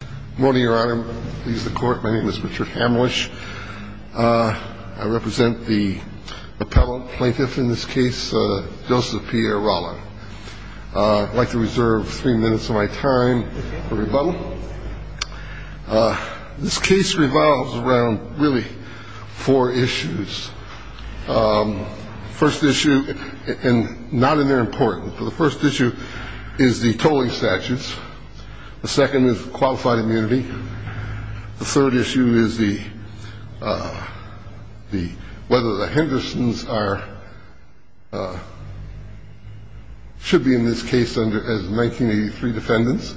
Good morning, Your Honor. My name is Richard Hamlisch. I represent the appellate plaintiff in this case, Joseph Pierre Rollin. I'd like to reserve three minutes of my time for rebuttal. This case revolves around really four issues. First issue, and not in their importance, but the first issue is the tolling statutes. The second is qualified immunity. The third issue is the – whether the Hendersons are – should be in this case under – as 1983 defendants,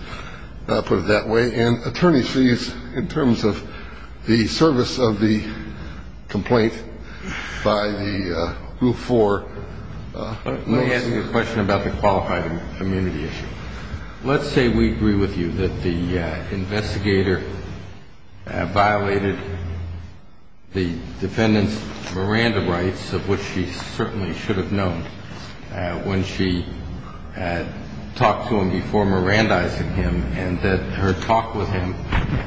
put it that way. And attorney sees in terms of the service of the complaint by the group for – Let me ask you a question about the qualified immunity issue. Let's say we agree with you that the investigator violated the defendant's Miranda rights, of which she certainly should have known, when she talked to him before Mirandizing him and that her talk with him,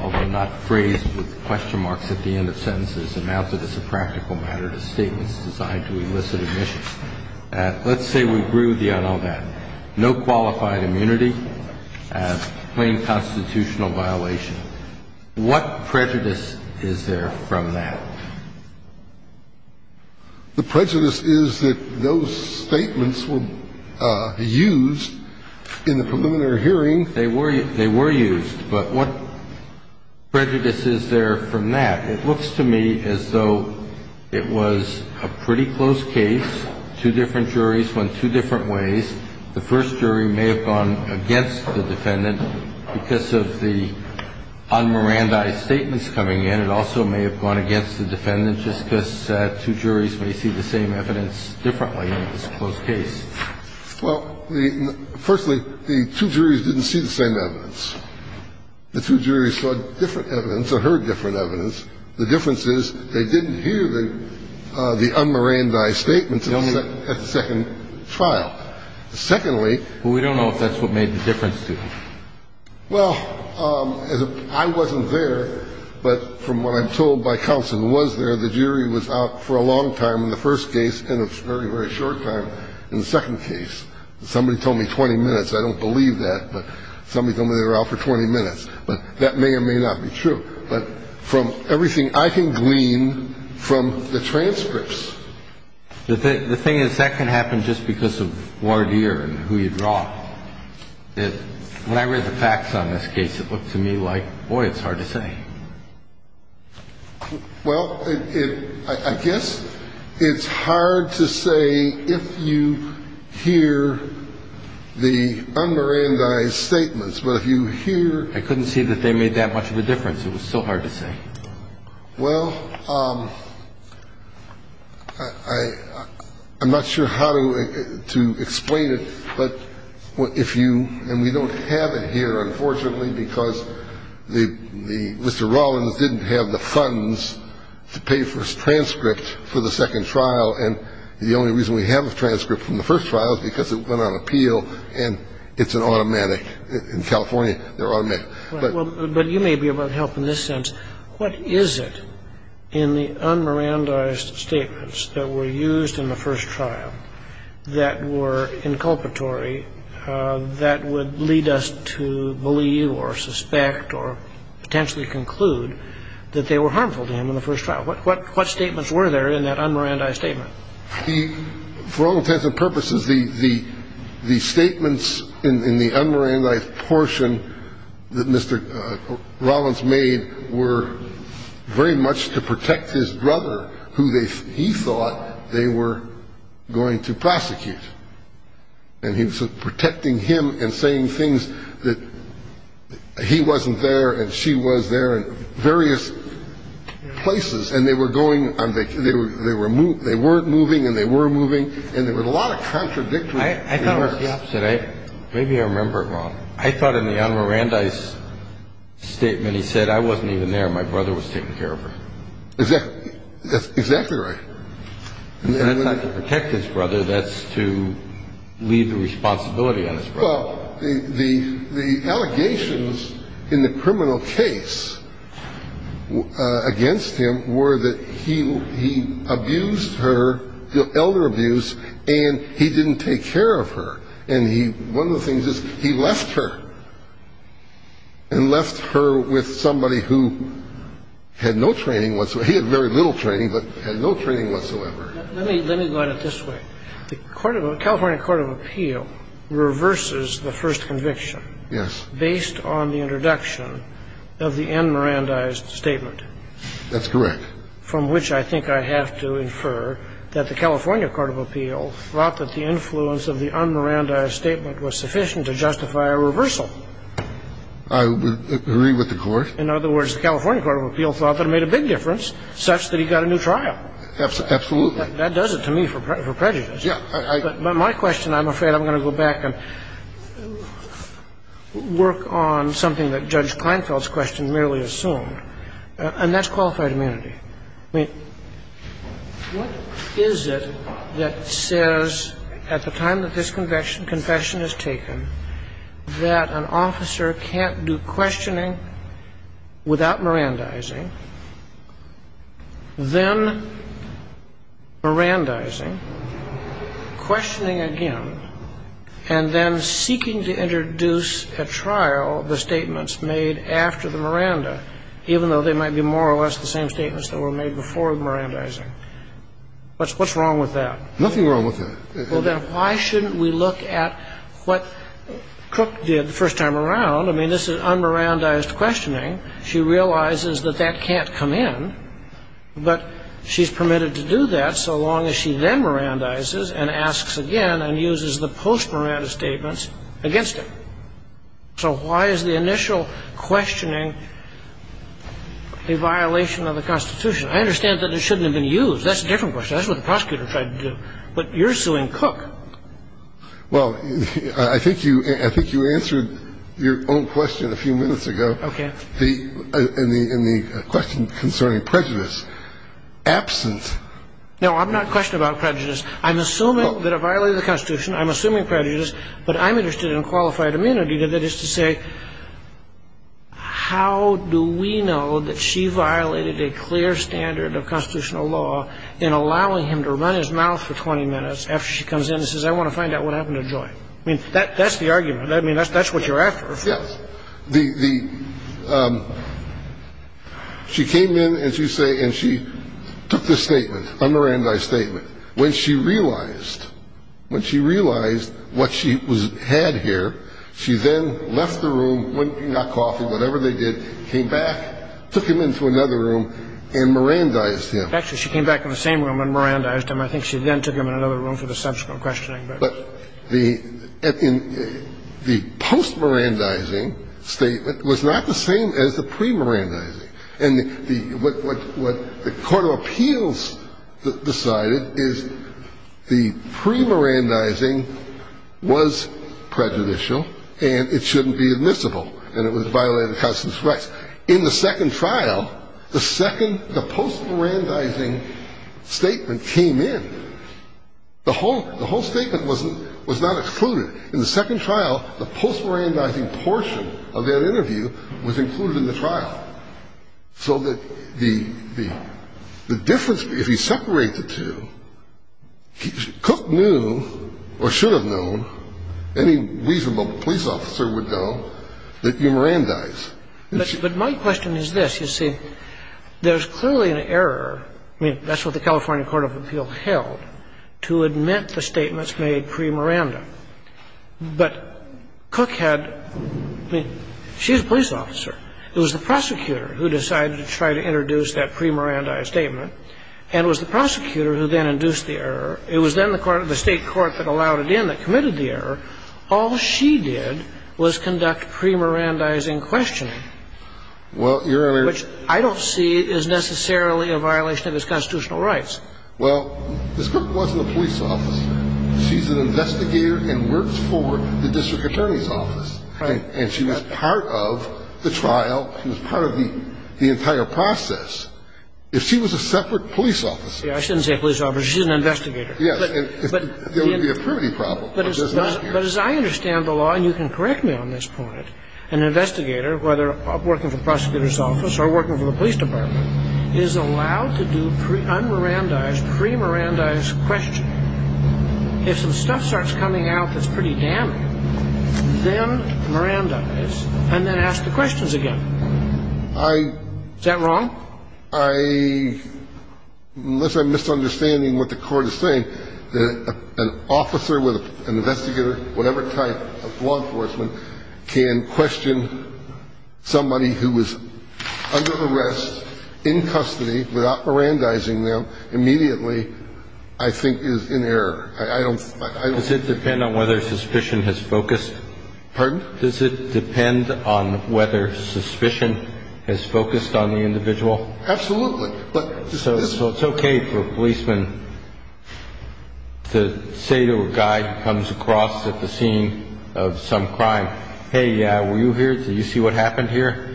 although not phrased with question marks at the end of sentences, amounted as a practical matter to statements designed to elicit admission. Let's say we agree with you on all that. No qualified immunity, plain constitutional violation. What prejudice is there from that? The prejudice is that those statements were used in the preliminary hearing. They were used, but what prejudice is there from that? It looks to me as though it was a pretty close case. Two different juries went two different ways. The first jury may have gone against the defendant. Because of the un-Mirandized statements coming in, it also may have gone against the defendant just because two juries may see the same evidence differently in this close case. Well, the – firstly, the two juries didn't see the same evidence. The two juries saw different evidence or heard different evidence. The difference is they didn't hear the un-Mirandized statements at the second trial. Secondly – Well, we don't know if that's what made the difference to them. Well, I wasn't there, but from what I'm told by counsel who was there, the jury was out for a long time in the first case and a very, very short time in the second case. Somebody told me 20 minutes. I don't believe that, but somebody told me they were out for 20 minutes. But that may or may not be true. But from everything I can glean from the transcripts. The thing is that can happen just because of voir dire and who you draw. When I read the facts on this case, it looked to me like, boy, it's hard to say. Well, I guess it's hard to say if you hear the un-Mirandized statements. But if you hear – I couldn't see that they made that much of a difference. It was so hard to say. Well, I'm not sure how to explain it, but if you – and we don't have it here, unfortunately, because Mr. Rawlins didn't have the funds to pay for his transcript for the second trial. And the only reason we have a transcript from the first trial is because it went on appeal and it's an automatic. In California, they're automatic. But – But you may be able to help in this sense. What is it in the un-Mirandized statements that were used in the first trial that were inculpatory that would lead us to believe or suspect or potentially conclude that they were harmful to him in the first trial? What statements were there in that un-Mirandized statement? For all intents and purposes, the statements in the un-Mirandized portion that Mr. Rawlins made were very much to protect his brother, who he thought they were going to prosecute. And he was protecting him and saying things that he wasn't there and she was there and various places. And they were going – they weren't moving and they were moving. And there were a lot of contradictions. I thought it was the opposite. Maybe I remember it wrong. I thought in the un-Mirandized statement he said, I wasn't even there. My brother was taken care of. That's exactly right. And it's not to protect his brother. That's to leave the responsibility on his brother. Well, the allegations in the criminal case against him were that he abused her, elder abuse, and he didn't take care of her. And one of the things is he left her and left her with somebody who had no training whatsoever. Let me go at it this way. The California court of appeal reverses the first conviction. Yes. Based on the introduction of the un-Mirandized statement. That's correct. From which I think I have to infer that the California court of appeal thought that the influence of the un-Mirandized statement was sufficient to justify a reversal. I agree with the Court. In other words, the California court of appeal thought that it made a big difference such that he got a new trial. Absolutely. That does it to me for prejudice. Yeah. But my question, I'm afraid, I'm going to go back and work on something that Judge Kleinfeld's question merely assumed, and that's qualified immunity. I mean, what is it that says at the time that this confession is taken that an officer can't do questioning without Mirandizing, then Mirandizing, questioning again, and then seeking to introduce at trial the statements made after the Miranda, even though they might be more or less the same statements that were made before Mirandizing? What's wrong with that? Nothing wrong with that. Well, then why shouldn't we look at what Cook did the first time around? I mean, this is un-Mirandized questioning. She realizes that that can't come in, but she's permitted to do that so long as she then Mirandizes and asks again and uses the post-Miranda statements against him. So why is the initial questioning a violation of the Constitution? I understand that it shouldn't have been used. That's a different question. That's what the prosecutor tried to do. But you're suing Cook. Well, I think you answered your own question a few minutes ago. Okay. In the question concerning prejudice. Absent. No, I'm not questioning about prejudice. I'm assuming that it violated the Constitution. I'm assuming prejudice, but I'm interested in qualified immunity. That is to say, how do we know that she violated a clear standard of constitutional law in allowing him to run his mouth for 20 minutes after she comes in and says, I want to find out what happened to Joy? I mean, that's the argument. I mean, that's what you're after. Yes. She came in and she took this statement, un-Mirandized statement. When she realized what she had here, she then left the room, went and got coffee, whatever they did, came back, took him into another room and Mirandized him. Actually, she came back in the same room and Mirandized him. I think she then took him in another room for the subsequent questioning. But the post-Mirandizing statement was not the same as the pre-Mirandizing. And what the court of appeals decided is the pre-Mirandizing was prejudicial and it shouldn't be admissible, and it violated the Constitution's rights. In the second trial, the post-Mirandizing statement came in. The whole statement was not excluded. In the second trial, the post-Mirandizing portion of that interview was included in the trial. So that the difference, if you separate the two, Cook knew, or should have known, any reasonable police officer would know, that you Mirandized. But my question is this, you see, there's clearly an error, I mean, that's what the California Court of Appeals held, to admit the statements made pre-Miranda. But Cook had, I mean, she's a police officer. It was the prosecutor who decided to try to introduce that pre-Mirandized statement. And it was the prosecutor who then induced the error. It was then the state court that allowed it in that committed the error. All she did was conduct pre-Mirandizing questioning, which I don't see is necessarily a violation of his constitutional rights. Well, Ms. Cook wasn't a police officer. She's an investigator and worked for the district attorney's office. Right. And she was part of the trial. She was part of the entire process. If she was a separate police officer. Yeah, I shouldn't say a police officer. She's an investigator. Yes, there would be a primitive problem. But as I understand the law, and you can correct me on this point, an investigator, whether working for the prosecutor's office or working for the police department, is allowed to do un-Mirandized, pre-Mirandized questioning. If some stuff starts coming out that's pretty damning, then Mirandize, and then ask the questions again. Is that wrong? I, unless I'm misunderstanding what the court is saying, an officer with an investigator, whatever type of law enforcement, can question somebody who was under arrest, in custody, without Mirandizing them, immediately, I think is in error. I don't. Pardon? Absolutely. So it's okay for a policeman to say to a guy who comes across at the scene of some crime, hey, were you here? Did you see what happened here?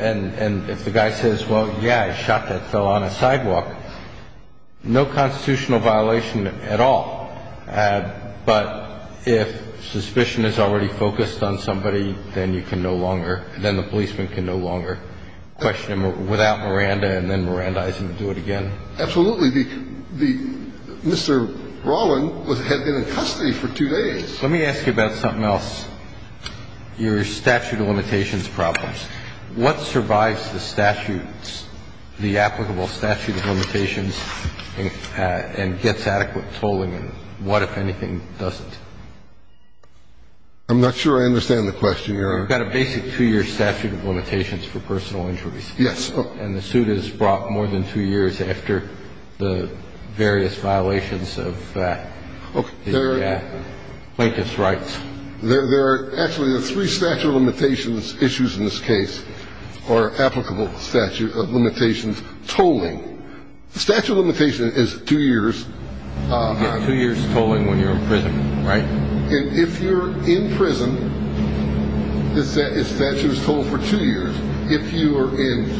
And if the guy says, well, yeah, I shot that fellow on a sidewalk, no constitutional violation at all. But if suspicion is already focused on somebody, then you can no longer, then the policeman can no longer question him without Miranda and then Mirandizing and do it again. Absolutely. The Mr. Rollin had been in custody for two days. Let me ask you about something else, your statute of limitations problems. What survives the statutes, the applicable statute of limitations, and gets adequate tolling, and what, if anything, doesn't? I'm not sure I understand the question, Your Honor. We've got a basic two-year statute of limitations for personal injuries. Yes. And the suit is brought more than two years after the various violations of plaintiff's rights. There are actually three statute of limitations issues in this case, or applicable statute of limitations, tolling. The statute of limitation is two years. You get two years tolling when you're in prison, right? And if you're in prison, the statute is tolled for two years. If you are in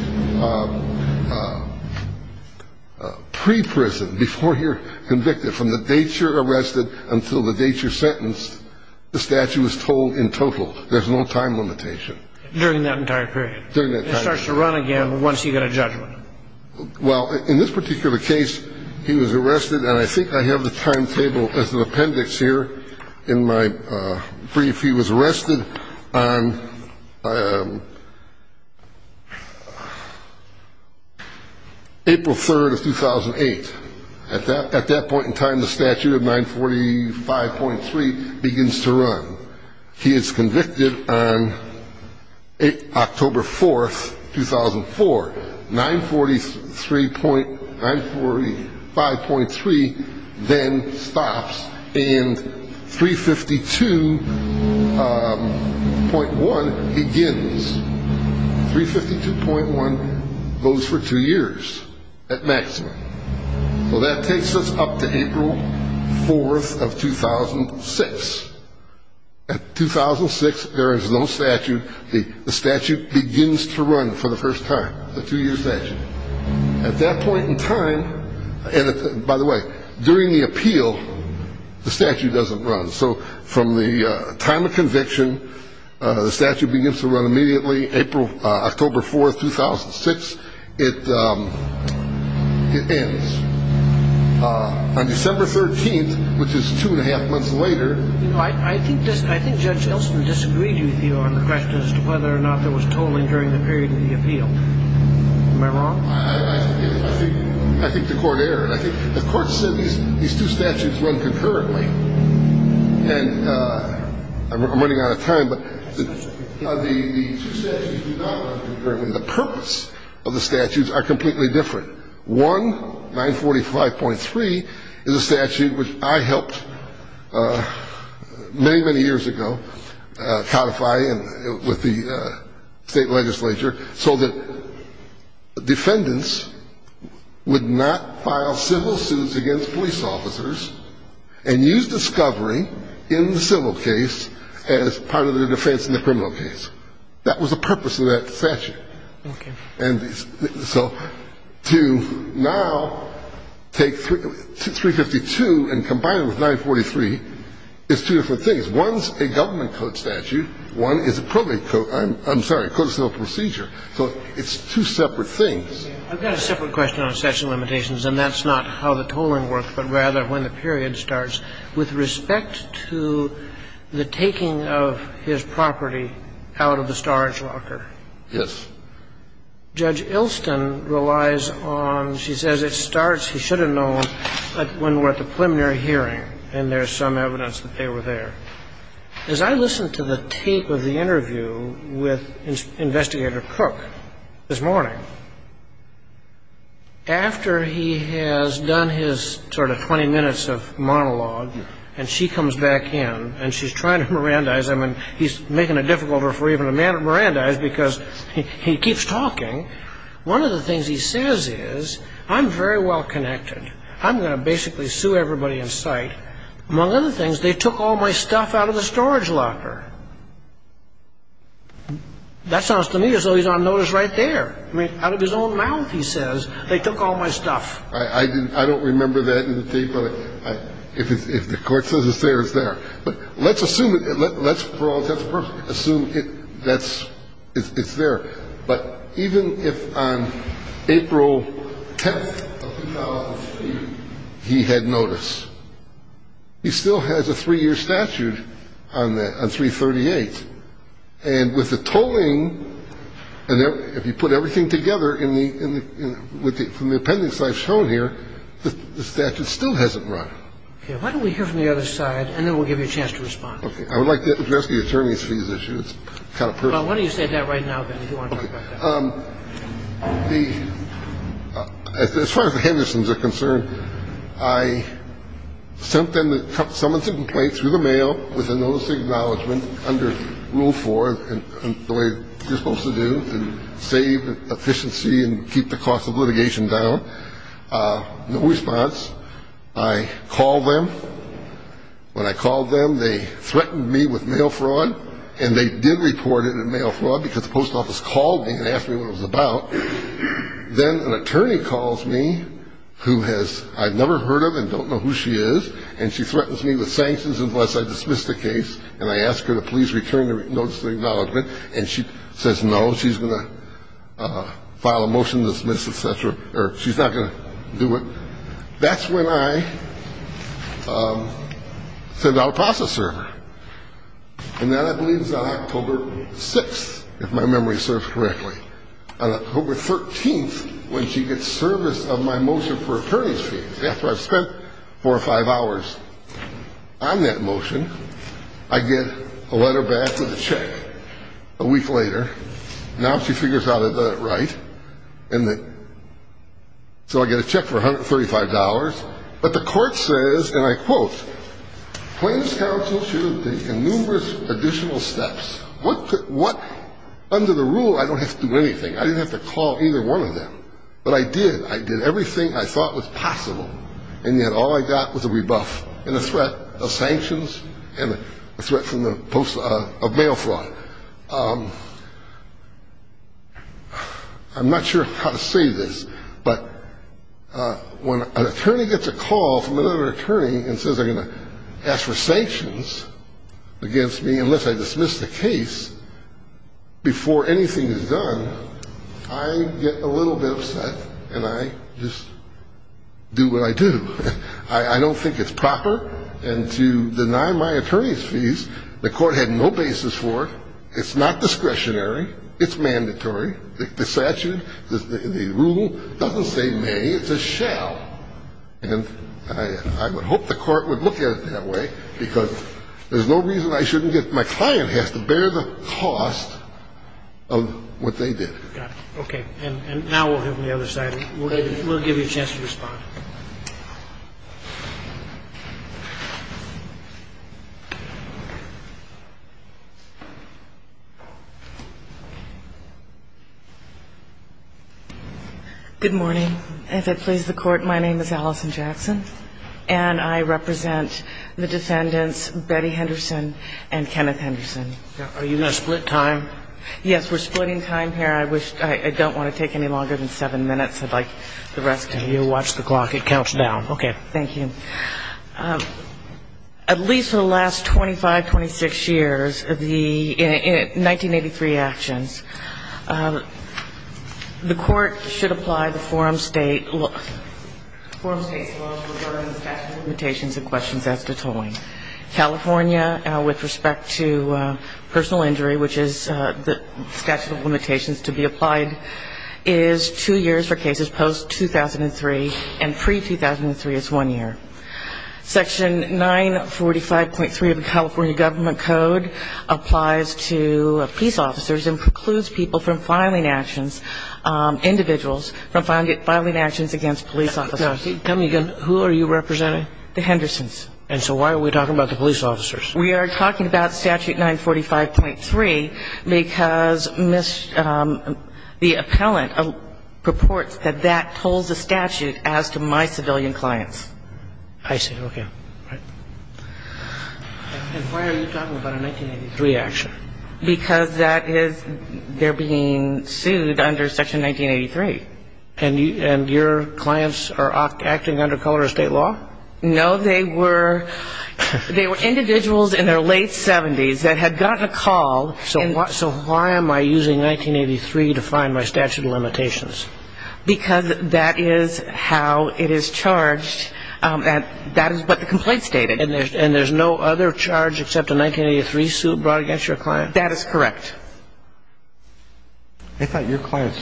pre-prison, before you're convicted, from the date you're arrested until the date you're sentenced, the statute is tolled in total. There's no time limitation. During that entire period. During that entire period. It starts to run again once you get a judgment. Well, in this particular case, he was arrested, and I think I have the timetable as an appendix here in my brief. He was arrested on April 3rd of 2008. At that point in time, the statute of 945.3 begins to run. He is convicted on October 4th, 2004. 945.3 then stops, and 352.1 begins. 352.1 goes for two years at maximum. So that takes us up to April 4th of 2006. At 2006, there is no statute. The statute begins to run for the first time, the two-year statute. At that point in time, and by the way, during the appeal, the statute doesn't run. So from the time of conviction, the statute begins to run immediately, October 4th, 2006. It ends. On December 13th, which is two and a half months later. I think Judge Elston disagreed with you on the question as to whether or not there was tolling during the period of the appeal. Am I wrong? I think the Court erred. I think the Court said these two statutes run concurrently. And I'm running out of time, but the two statutes do not run concurrently. The purpose of the statutes are completely different. One, 945.3, is a statute which I helped many, many years ago codify with the State Legislature so that defendants would not file civil suits against police officers and use discovery in the civil case as part of their defense in the criminal case. And so to now take 352 and combine it with 943 is two different things. One's a government code statute. One is a probate code. I'm sorry, a code of civil procedure. So it's two separate things. I've got a separate question on section limitations, and that's not how the tolling worked, but rather when the period starts. With respect to the taking of his property out of the storage locker. Yes. Judge Ilston relies on, she says it starts, he should have known, when we're at the preliminary hearing, and there's some evidence that they were there. As I listened to the tape of the interview with Investigator Cook this morning, after he has done his sort of 20 minutes of monologue, and she comes back in, and she's trying to Mirandize him. And he's making it difficult for even a man to Mirandize because he keeps talking. One of the things he says is, I'm very well connected. I'm going to basically sue everybody in sight. Among other things, they took all my stuff out of the storage locker. That sounds to me as though he's on notice right there. I mean, out of his own mouth, he says, they took all my stuff. I don't remember that in the tape, but if the court says it's there, it's there. But let's assume, for all intents and purposes, assume it's there. But even if on April 10th of 2003 he had notice, he still has a three-year statute on 338. And with the tolling, if you put everything together from the appendix I've shown here, the statute still hasn't run. we're going to sue everybody, but it's not a case of, you know, we're going to sue everyone. Why don't we hear from the other side, and then we'll give you a chance to respond. I would like to address the attorney's fees issue. It's kind of personal. Why don't you say that right now, then, if you want to talk about that. Well, as far as the Hendersons are concerned, I sent them the summons and complaints through the mail with a notice of acknowledgement under Rule 4, the way you're supposed to do, to save efficiency and keep the cost of litigation down. No response. I called them. When I called them, they threatened me with mail fraud, and they did report it in mail fraud because the post office called me and asked me what it was about. Then an attorney calls me who has ‑‑ I've never heard of and don't know who she is, and she threatens me with sanctions unless I dismiss the case, and I ask her to please return the notice of acknowledgement, and she says no, she's going to file a motion to dismiss, et cetera, or she's not going to do it. That's when I sent out a process server. And that leaves on October 6th, if my memory serves correctly. On October 13th, when she gets service of my motion for attorney's fees, after I've spent four or five hours on that motion, I get a letter back with a check a week later. Now she figures out I've done it right, so I get a check for $135, but the court says, and I quote, claims counsel should have taken numerous additional steps. Under the rule, I don't have to do anything. I didn't have to call either one of them, but I did. I did everything I thought was possible, and yet all I got was a rebuff and a threat of sanctions and a threat from the post of mail fraud. I'm not sure how to say this, but when an attorney gets a call from another attorney and says they're going to ask for sanctions against me unless I dismiss the case before anything is done, I get a little bit upset, and I just do what I do. I don't think it's proper. And to deny my attorney's fees, the court had no basis for it. It's not discretionary. It's mandatory. The statute, the rule doesn't say may. It says shall, and I would hope the court would look at it that way, because there's no reason I shouldn't get my client has to bear the cost of what they did. Okay. And now we'll have the other side. We'll give you a chance to respond. Good morning. If it pleases the court, my name is Allison Jackson, and I represent the defendants Betty Henderson and Kenneth Henderson. Are you in a split time? Yes, we're splitting time here. I don't want to take any longer than seven minutes. I'd like the rest of you to watch the clock. It counts down. Okay. Thank you. At least for the last 25, 26 years of the 1983 actions, the court should apply the forum state's law regarding the statute of limitations and questions as to tolling. California, with respect to personal injury, which is the statute of limitations to be applied, is two years for cases post-2003 and pre-2003 is one year. Section 945.3 of the California government code applies to police officers and precludes people from filing actions, individuals from filing actions against police officers. Tell me again, who are you representing? The Hendersons. And so why are we talking about the police officers? We are talking about statute 945.3 because the appellant reports that that tolls the statute as to my civilian clients. I see. Okay. And why are you talking about a 1983 action? Because that is they're being sued under section 1983. And your clients are acting under color of state law? No, they were individuals in their late 70s that had gotten a call. So why am I using 1983 to find my statute of limitations? Because that is how it is charged. That is what the complaint stated. And there's no other charge except a 1983 suit brought against your client? That is correct. I thought your client's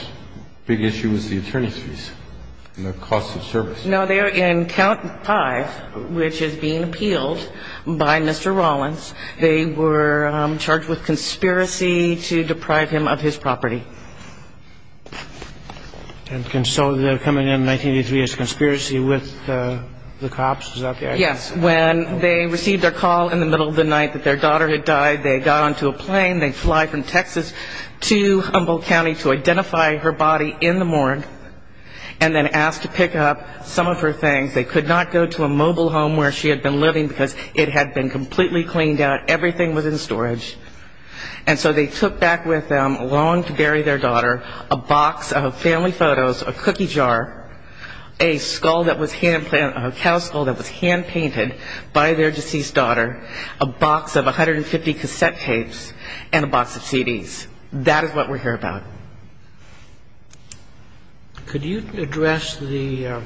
big issue was the attorney's fees and the cost of service. No, they are in count 5, which is being appealed by Mr. Rawlins. They were charged with conspiracy to deprive him of his property. And so the coming in 1983 is conspiracy with the cops? Is that the idea? Yes. When they received their call in the middle of the night that their daughter had died, they got onto a plane, they fly from Texas to Humboldt County to identify her body in the morgue, and then asked to pick up some of her things. They could not go to a mobile home where she had been living, because it had been completely cleaned out. Everything was in storage. And so they took back with them, along to bury their daughter, a box of family photos, a cookie jar, a skull that was hand-planted, a cow skull that was hand-painted by their deceased daughter, a box of 150 cassette tapes, and a box of CDs. That is what we're here about. Could you address the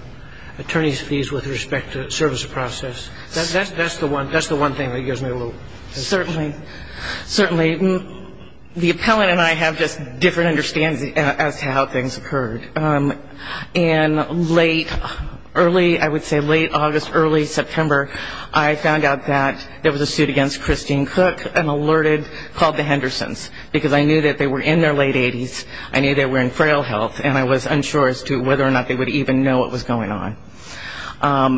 attorney's fees with respect to the service process? That's the one thing that gives me a little... Certainly. Certainly. The appellant and I have just different understandings as to how things occurred. In late, early, I would say late August, early September, I found out that there was a suit against Christine Cook and alerted, called the Hendersons, because I knew that they were in their late 80s. I knew they were in frail health, and I was unsure as to whether or not they would even know what was going on.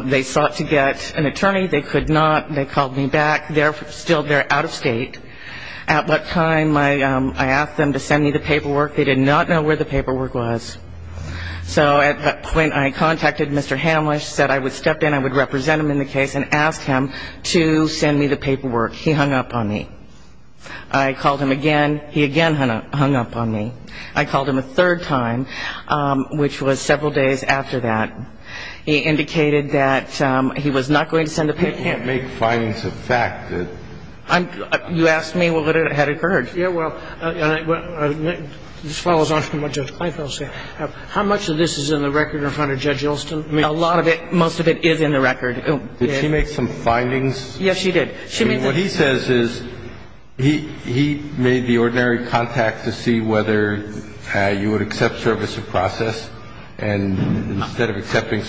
They sought to get an attorney. They could not. They called me back. Still, they're out of state. At what time I asked them to send me the paperwork. They did not know where the paperwork was. So at that point I contacted Mr. Hamlisch, said I would step in, I would represent him in the case and ask him to send me the paperwork. He hung up on me. I called him again. He again hung up on me. I called him a third time, which was several days after that. He indicated that he was not going to send the paperwork. You can't make findings of fact. You asked me what had occurred. Court is asking you to find out the record. Yeah, well, this follows on from what Judge Kleinfeld said. How much of this is in the record in front of Judge Yeltsin? I mean, a lot of it – most of it is in the record. Did she make some findings? Yes, she did. I mean, what he says is he made the ordinary contact to see whether you would accept service of process. And I'm here to tell you that I had no idea about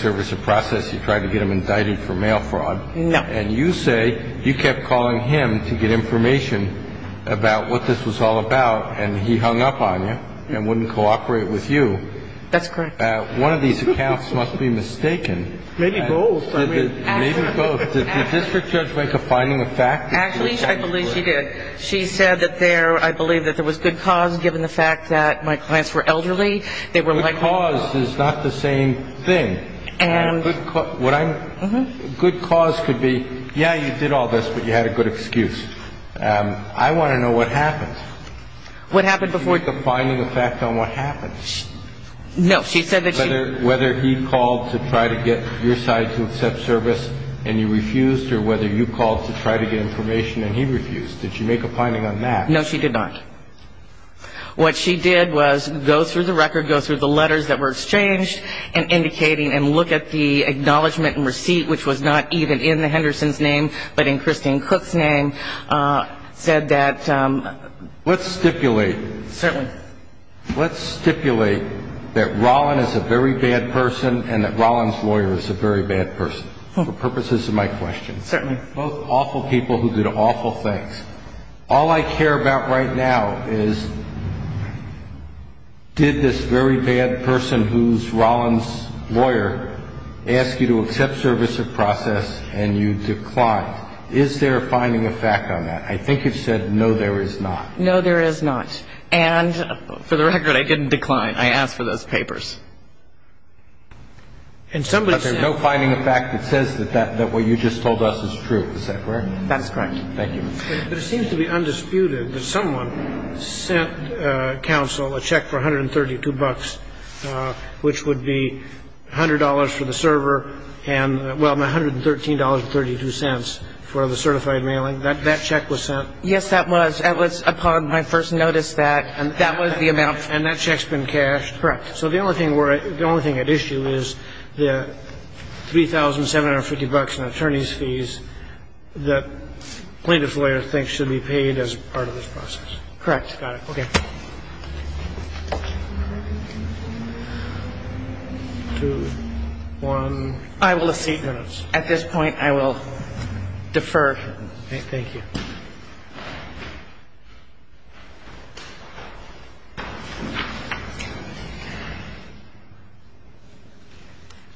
what this was all about. And he hung up on you and wouldn't cooperate with you. That's correct. One of these accounts must be mistaken. Maybe both. Maybe both. Did the district judge make a finding of fact? Actually, I believe she did. She said that there – I believe that there was good cause I want to know what happened. What happened before – Did she make a finding of fact on what happened? No, she said that she – Whether he called to try to get your side to accept service and you refused or whether you called to try to get information and he refused. Did she make a finding on that? No, she did not. What she did was go through the record, go through the letters that were exchanged and indicating and look at the acknowledgment and receipt, which was not even in Henderson's name but in Christine Cook's name, and said that – Let's stipulate – Certainly. Let's stipulate that Rollin is a very bad person and that Rollin's lawyer is a very bad person for purposes of my question. Certainly. Both awful people who did awful things. All I care about right now is did this very bad person who's Rollin's lawyer ask you to accept service or process and you declined. Is there a finding of fact on that? I think you've said no, there is not. No, there is not. And for the record, I didn't decline. I asked for those papers. But there's no finding of fact that says that what you just told us is true. Is that correct? That is correct. Thank you. But it seems to be undisputed that someone sent counsel a check for $132, which would be $100 for the server and – well, $113.32 for the certified mailing. That check was sent? Yes, that was. It was upon my first notice that that was the amount. And that check's been cashed? Correct. So the only thing we're – the only thing at issue is the $3,750 in attorney's fees that plaintiff's lawyer thinks should be paid as part of this process. Correct. Got it. Okay. Thank you. Two, one, eight minutes. At this point, I will defer. Thank you.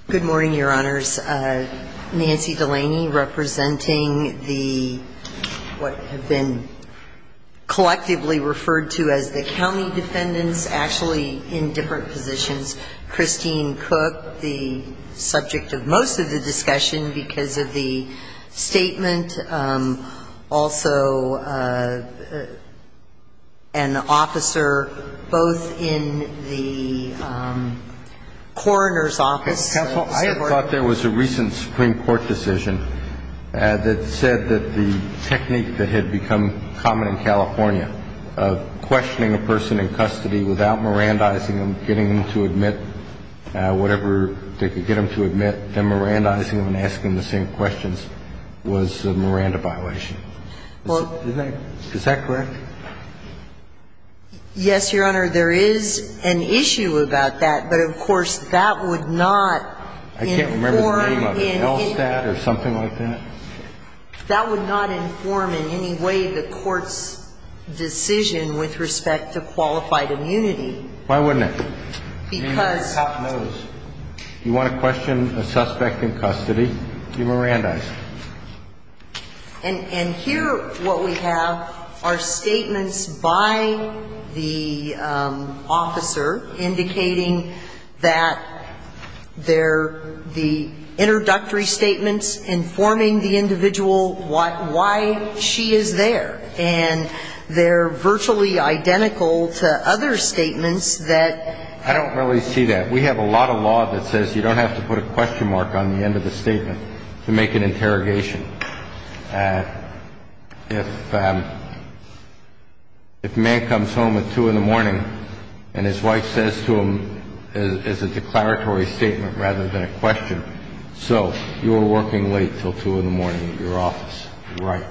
Good morning, Your Honors. Nancy Delaney representing the, what have been collectively referred to as the county defendants, actually in different positions. Christine Cook, the subject of most of the discussion because of the statement. Also, an officer both in the coroner's office. Counsel, I thought there was a recent Supreme Court decision that said that the technique that had become common in California of questioning a person in custody without Mirandizing them, getting them to admit whatever they could get them to admit, then Mirandizing them and asking the same questions was a Miranda violation. Is that correct? Yes, Your Honor. There is an issue about that. But, of course, that would not inform. I can't remember the name of it. ELSTAT or something like that? That would not inform in any way the Court's decision with respect to qualified immunity. Why wouldn't it? Because. You want to question a suspect in custody, you Mirandize. And here what we have are statements by the officer indicating that they're the introductory statements informing the individual why she is there. And they're virtually identical to other statements that. I don't really see that. We have a lot of law that says you don't have to put a question mark on the end of the interrogation. If a man comes home at 2 in the morning and his wife says to him it's a declaratory statement rather than a question, so you were working late until 2 in the morning at your office. Right.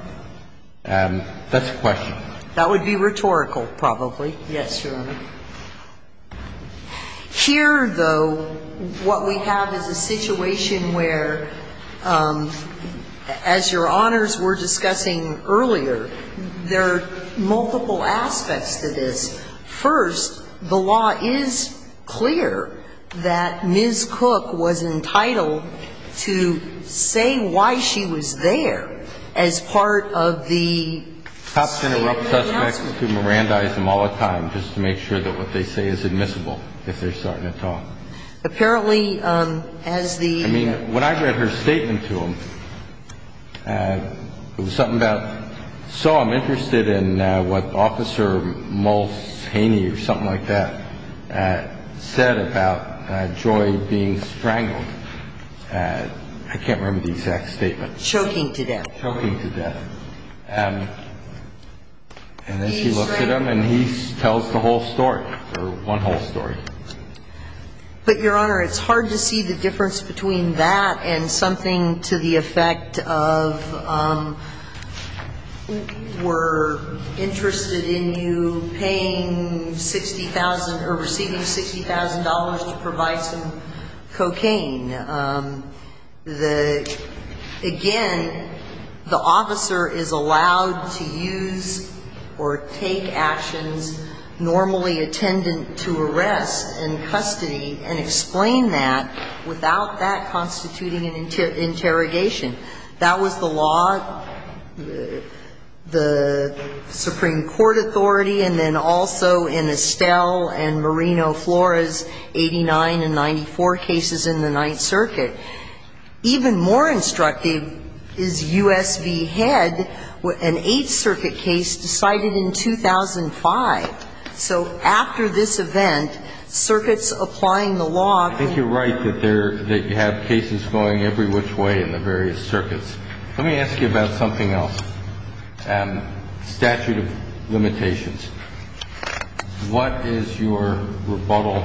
That's a question. That would be rhetorical probably. Yes, Your Honor. Here, though, what we have is a situation where, as Your Honors were discussing earlier, there are multiple aspects to this. First, the law is clear that Ms. Cook was entitled to say why she was there as part of the. So, I'm interested in what Officer Moles-Haney or something like that said about Joy being strangled. I can't remember the exact statement. Choking to death. And then she looks at him and he tells the whole story, or one whole story. But, Your Honor, it's hard to see the difference between that and something to the effect of we're interested in you paying $60,000 or receiving $60,000 to provide some cocaine. The, again, the officer is allowed to use or take actions normally attendant to arrest and custody and explain that without that constituting an interrogation. That was the law, the Supreme Court authority, and then also in Estelle and Marino Flores, 89 and 94 cases in the Ninth Circuit. Even more instructive is U.S. v. Head, an Eighth Circuit case decided in 2005. So, after this event, circuits applying the law can be. I think you're right that you have cases going every which way in the various circuits. Let me ask you about something else. Statute of limitations. What is your rebuttal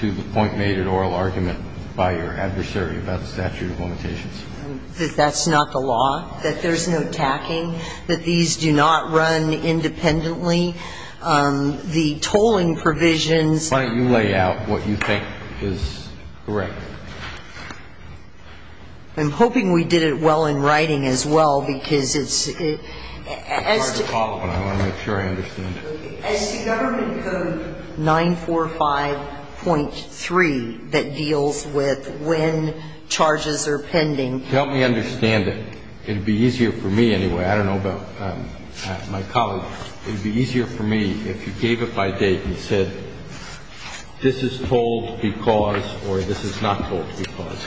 to the point made at oral argument by your adversary about the statute of limitations? That that's not the law, that there's no tacking, that these do not run independently. The tolling provisions. Why don't you lay out what you think is correct? I'm hoping we did it well in writing as well, because it's, as to. As to government code 945.3 that deals with when charges are pending. Help me understand it. It would be easier for me anyway. I don't know about my colleague. It would be easier for me if you gave it by date and said, this is tolled because or this is not tolled because.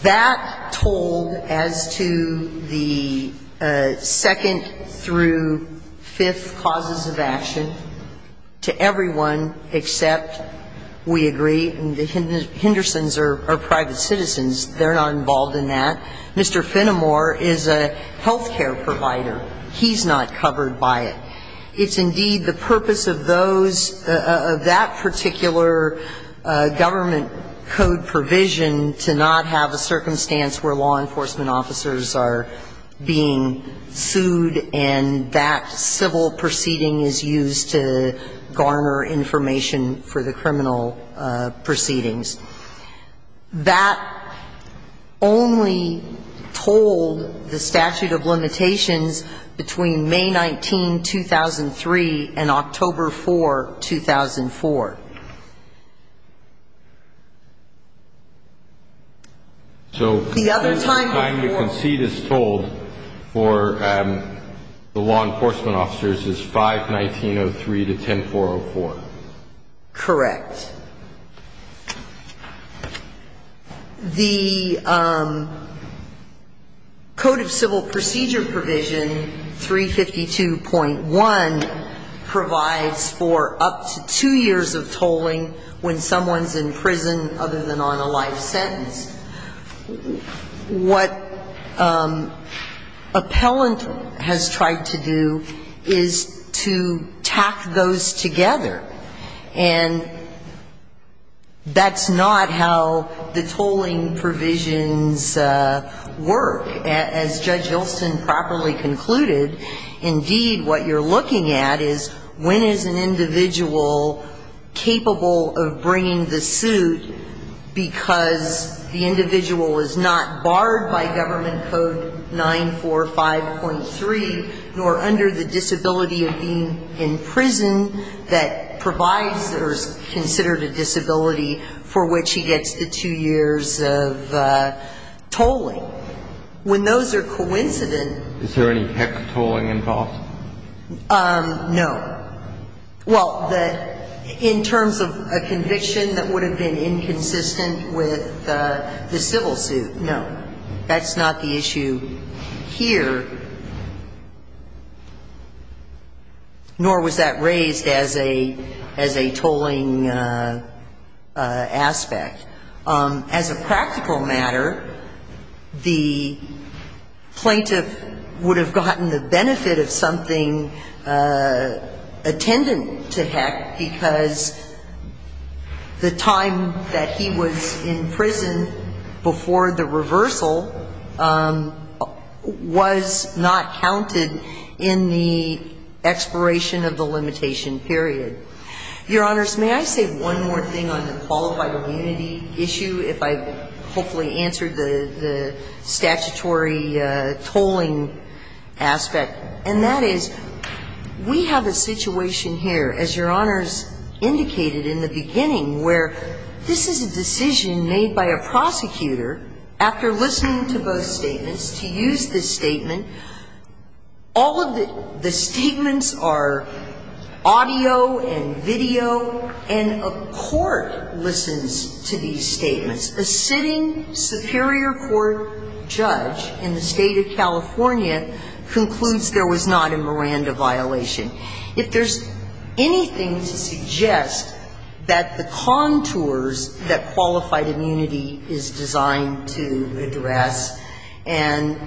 That tolled as to the second through fifth causes of action to everyone except, we agree, and the Henderson's are private citizens. They're not involved in that. Mr. Finnemore is a health care provider. He's not covered by it. It's indeed the purpose of those, of that particular government code provision to not have a circumstance where law enforcement officers are being sued and that civil proceeding is used to garner information for the criminal proceedings. That only tolled the statute of limitations between May 19, 2003, and October 4, 2004. The other time you concede is tolled for the law enforcement officers is 519.03 to 10404. Correct. The Code of Civil Procedure Provision 352.1 provides for up to two years of tolling when someone's in prison other than on a life sentence. What appellant has tried to do is to tack those together. And that's not how the tolling provisions work. As Judge Hylston properly concluded, indeed what you're looking at is when is an individual capable of bringing the suit because the individual is not barred by government code 945.3, nor under the disability of being in prison that provides or is considered a disability for which he gets the two years of tolling. When those are coincident Is there any hex tolling involved? No. Well, in terms of a conviction that would have been inconsistent with the civil suit, no. That's not the issue here. Nor was that raised as a tolling aspect. As a practical matter, the plaintiff would have gotten the benefit of something attendant to heck because the time that he was in prison before the reversal of the conviction was not counted in the expiration of the limitation period. Your Honors, may I say one more thing on the qualified immunity issue, if I've hopefully answered the statutory tolling aspect, and that is we have a situation here, as Your Honors indicated in the beginning, where this is a decision made by a prosecutor after listening to both statements, to use this statement, all of the statements are audio and video, and a court listens to these statements. A sitting Superior Court judge in the State of California concludes there was not a Miranda violation. If there's anything to suggest that the contours that qualified immunity is designed to address, and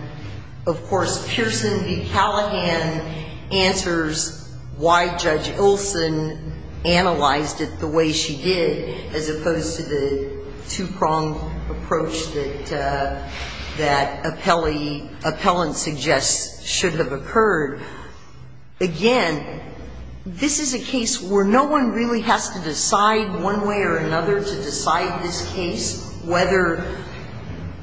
of course, Pearson v. Callahan answers why Judge Olson analyzed it the way she did, as opposed to the two-pronged approach that appellant suggests should have occurred. Again, this is a case where no one really has to decide one way or another to use the statute to decide this case, whether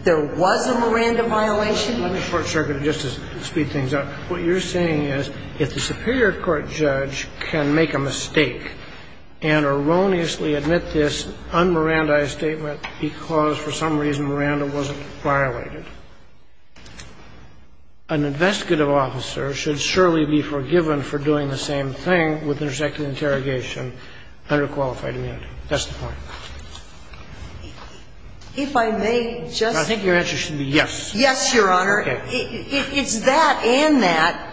there was a Miranda violation. Let me short-circuit it just to speed things up. What you're saying is if the Superior Court judge can make a mistake and erroneously admit this un-Mirandaized statement because for some reason Miranda wasn't violated, an investigative officer should surely be forgiven for doing the same thing with intersecting and interrogation, under qualified immunity. That's the point. If I may just say. I think your answer should be yes. Yes, Your Honor. Okay. It's that and that.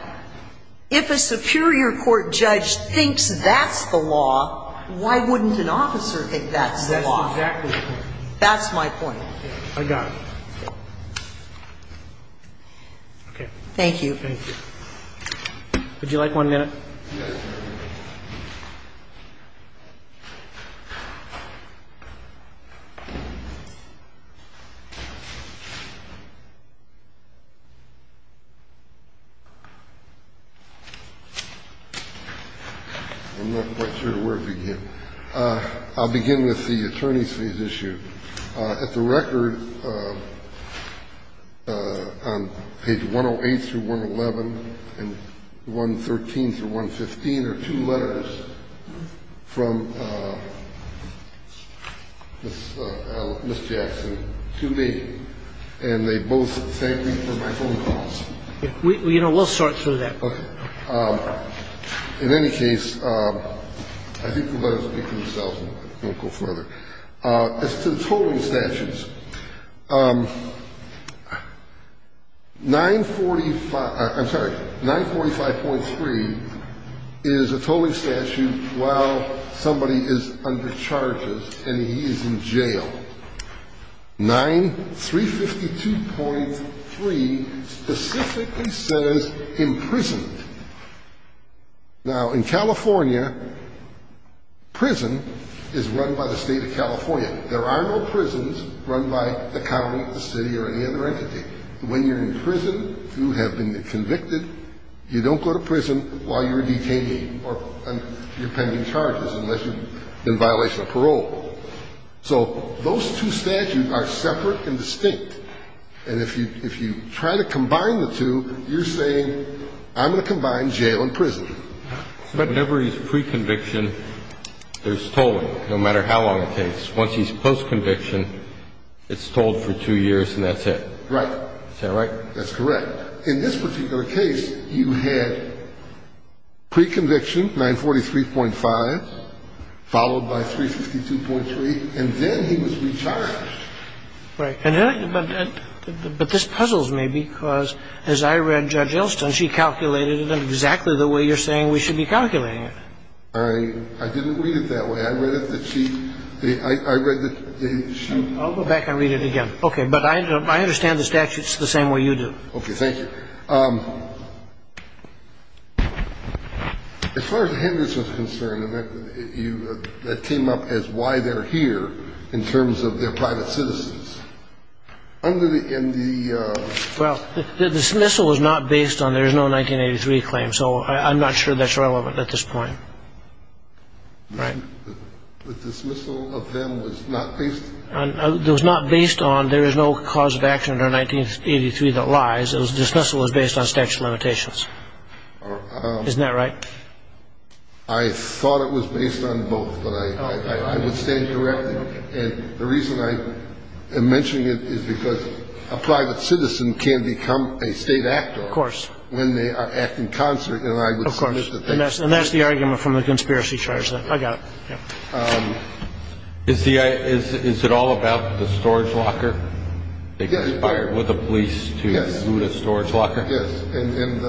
If a Superior Court judge thinks that's the law, why wouldn't an officer think that's the law? That's exactly the point. That's my point. I got it. Okay. Thank you. Thank you. Would you like one minute? Yes, Your Honor. I'm not quite sure where to begin. I'll begin with the attorney's fees issue. At the record on page 108 through 111 and 113 through 115 are two letters from Ms. Jackson to me, and they both thank me for my phone calls. We'll sort through that. Okay. In any case, I think the letters speak for themselves and I won't go further. As to the tolling statutes, 945, I'm sorry, 945.3 is a tolling statute while somebody is under charges and he is in jail. 9352.3 specifically says imprisoned. Now, in California, prison is run by the State of California. There are no prisons run by the county, the city or any other entity. When you're in prison, you have been convicted. You don't go to prison while you're a detainee or you're pending charges unless you're in violation of parole. So those two statutes are separate and distinct. And if you try to combine the two, you're saying I'm going to combine jail and prison. Whenever he's pre-conviction, there's tolling, no matter how long it takes. Once he's post-conviction, it's tolled for two years and that's it. Right. Is that right? That's correct. In this particular case, you had pre-conviction, 943.5, followed by 362.3, and then he was recharged. Right. But this puzzles me because as I read Judge Elston, she calculated it exactly the way you're saying we should be calculating it. I didn't read it that way. I read it that she – I read that she – I'll go back and read it again. Okay. But I understand the statute's the same way you do. Thank you. As far as Henderson's concerned, that came up as why they're here in terms of their private citizens. Under the – in the – Well, the dismissal was not based on there's no 1983 claim, so I'm not sure that's relevant at this point. Right. The dismissal of them was not based – It was not based on there is no cause of action under 1983 that lies. The dismissal was based on statute of limitations. Isn't that right? I thought it was based on both, but I would stand corrected. And the reason I am mentioning it is because a private citizen can become a state actor. Of course. When they act in concert. Of course. And that's the argument from the conspiracy charge. I got it. Is the – is it all about the storage locker? Yes. So you can get fired with the police to loot a storage locker? Yes. And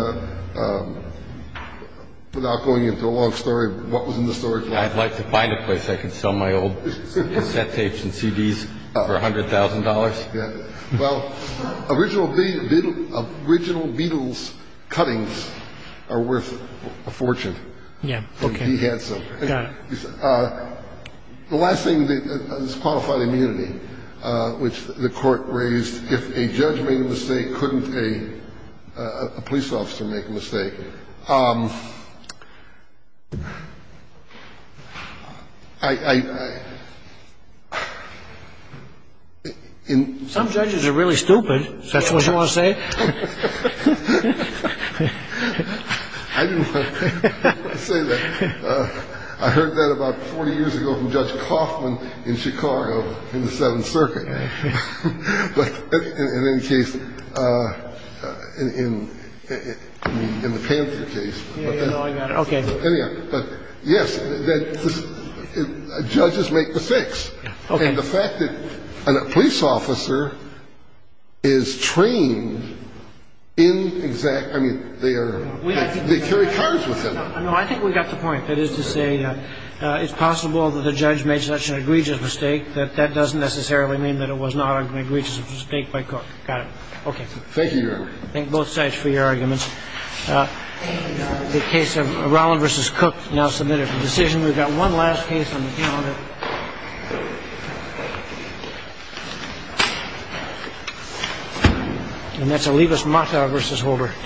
without going into a long story, what was in the storage locker? I'd like to find a place I can sell my old cassette tapes and CDs for $100,000. Yeah. Well, original Beatles cuttings are worth a fortune. Yeah. Okay. He had some. Got it. The last thing is qualified immunity, which the court raised. If a judge made a mistake, couldn't a police officer make a mistake? I – Some judges are really stupid, if that's what you want to say. I didn't want to say that. I heard that about 40 years ago from Judge Kaufman in Chicago in the Seventh Circuit. But in any case, in the Panther case. Yeah, yeah, I got it. Okay. But, yes, judges make mistakes. Okay. And the fact that a police officer is trained in exact – I mean, they carry cards with them. No, I think we got the point. That is to say, it's possible that the judge made such an egregious mistake that that doesn't necessarily mean that it was not an egregious mistake by Cook. Got it. Okay. Thank you, Your Honor. Thank both sides for your arguments. The case of Rolland v. Cook now submitted for decision. We've got one last case on the calendar. And that's Olivas-Mata v. Holder.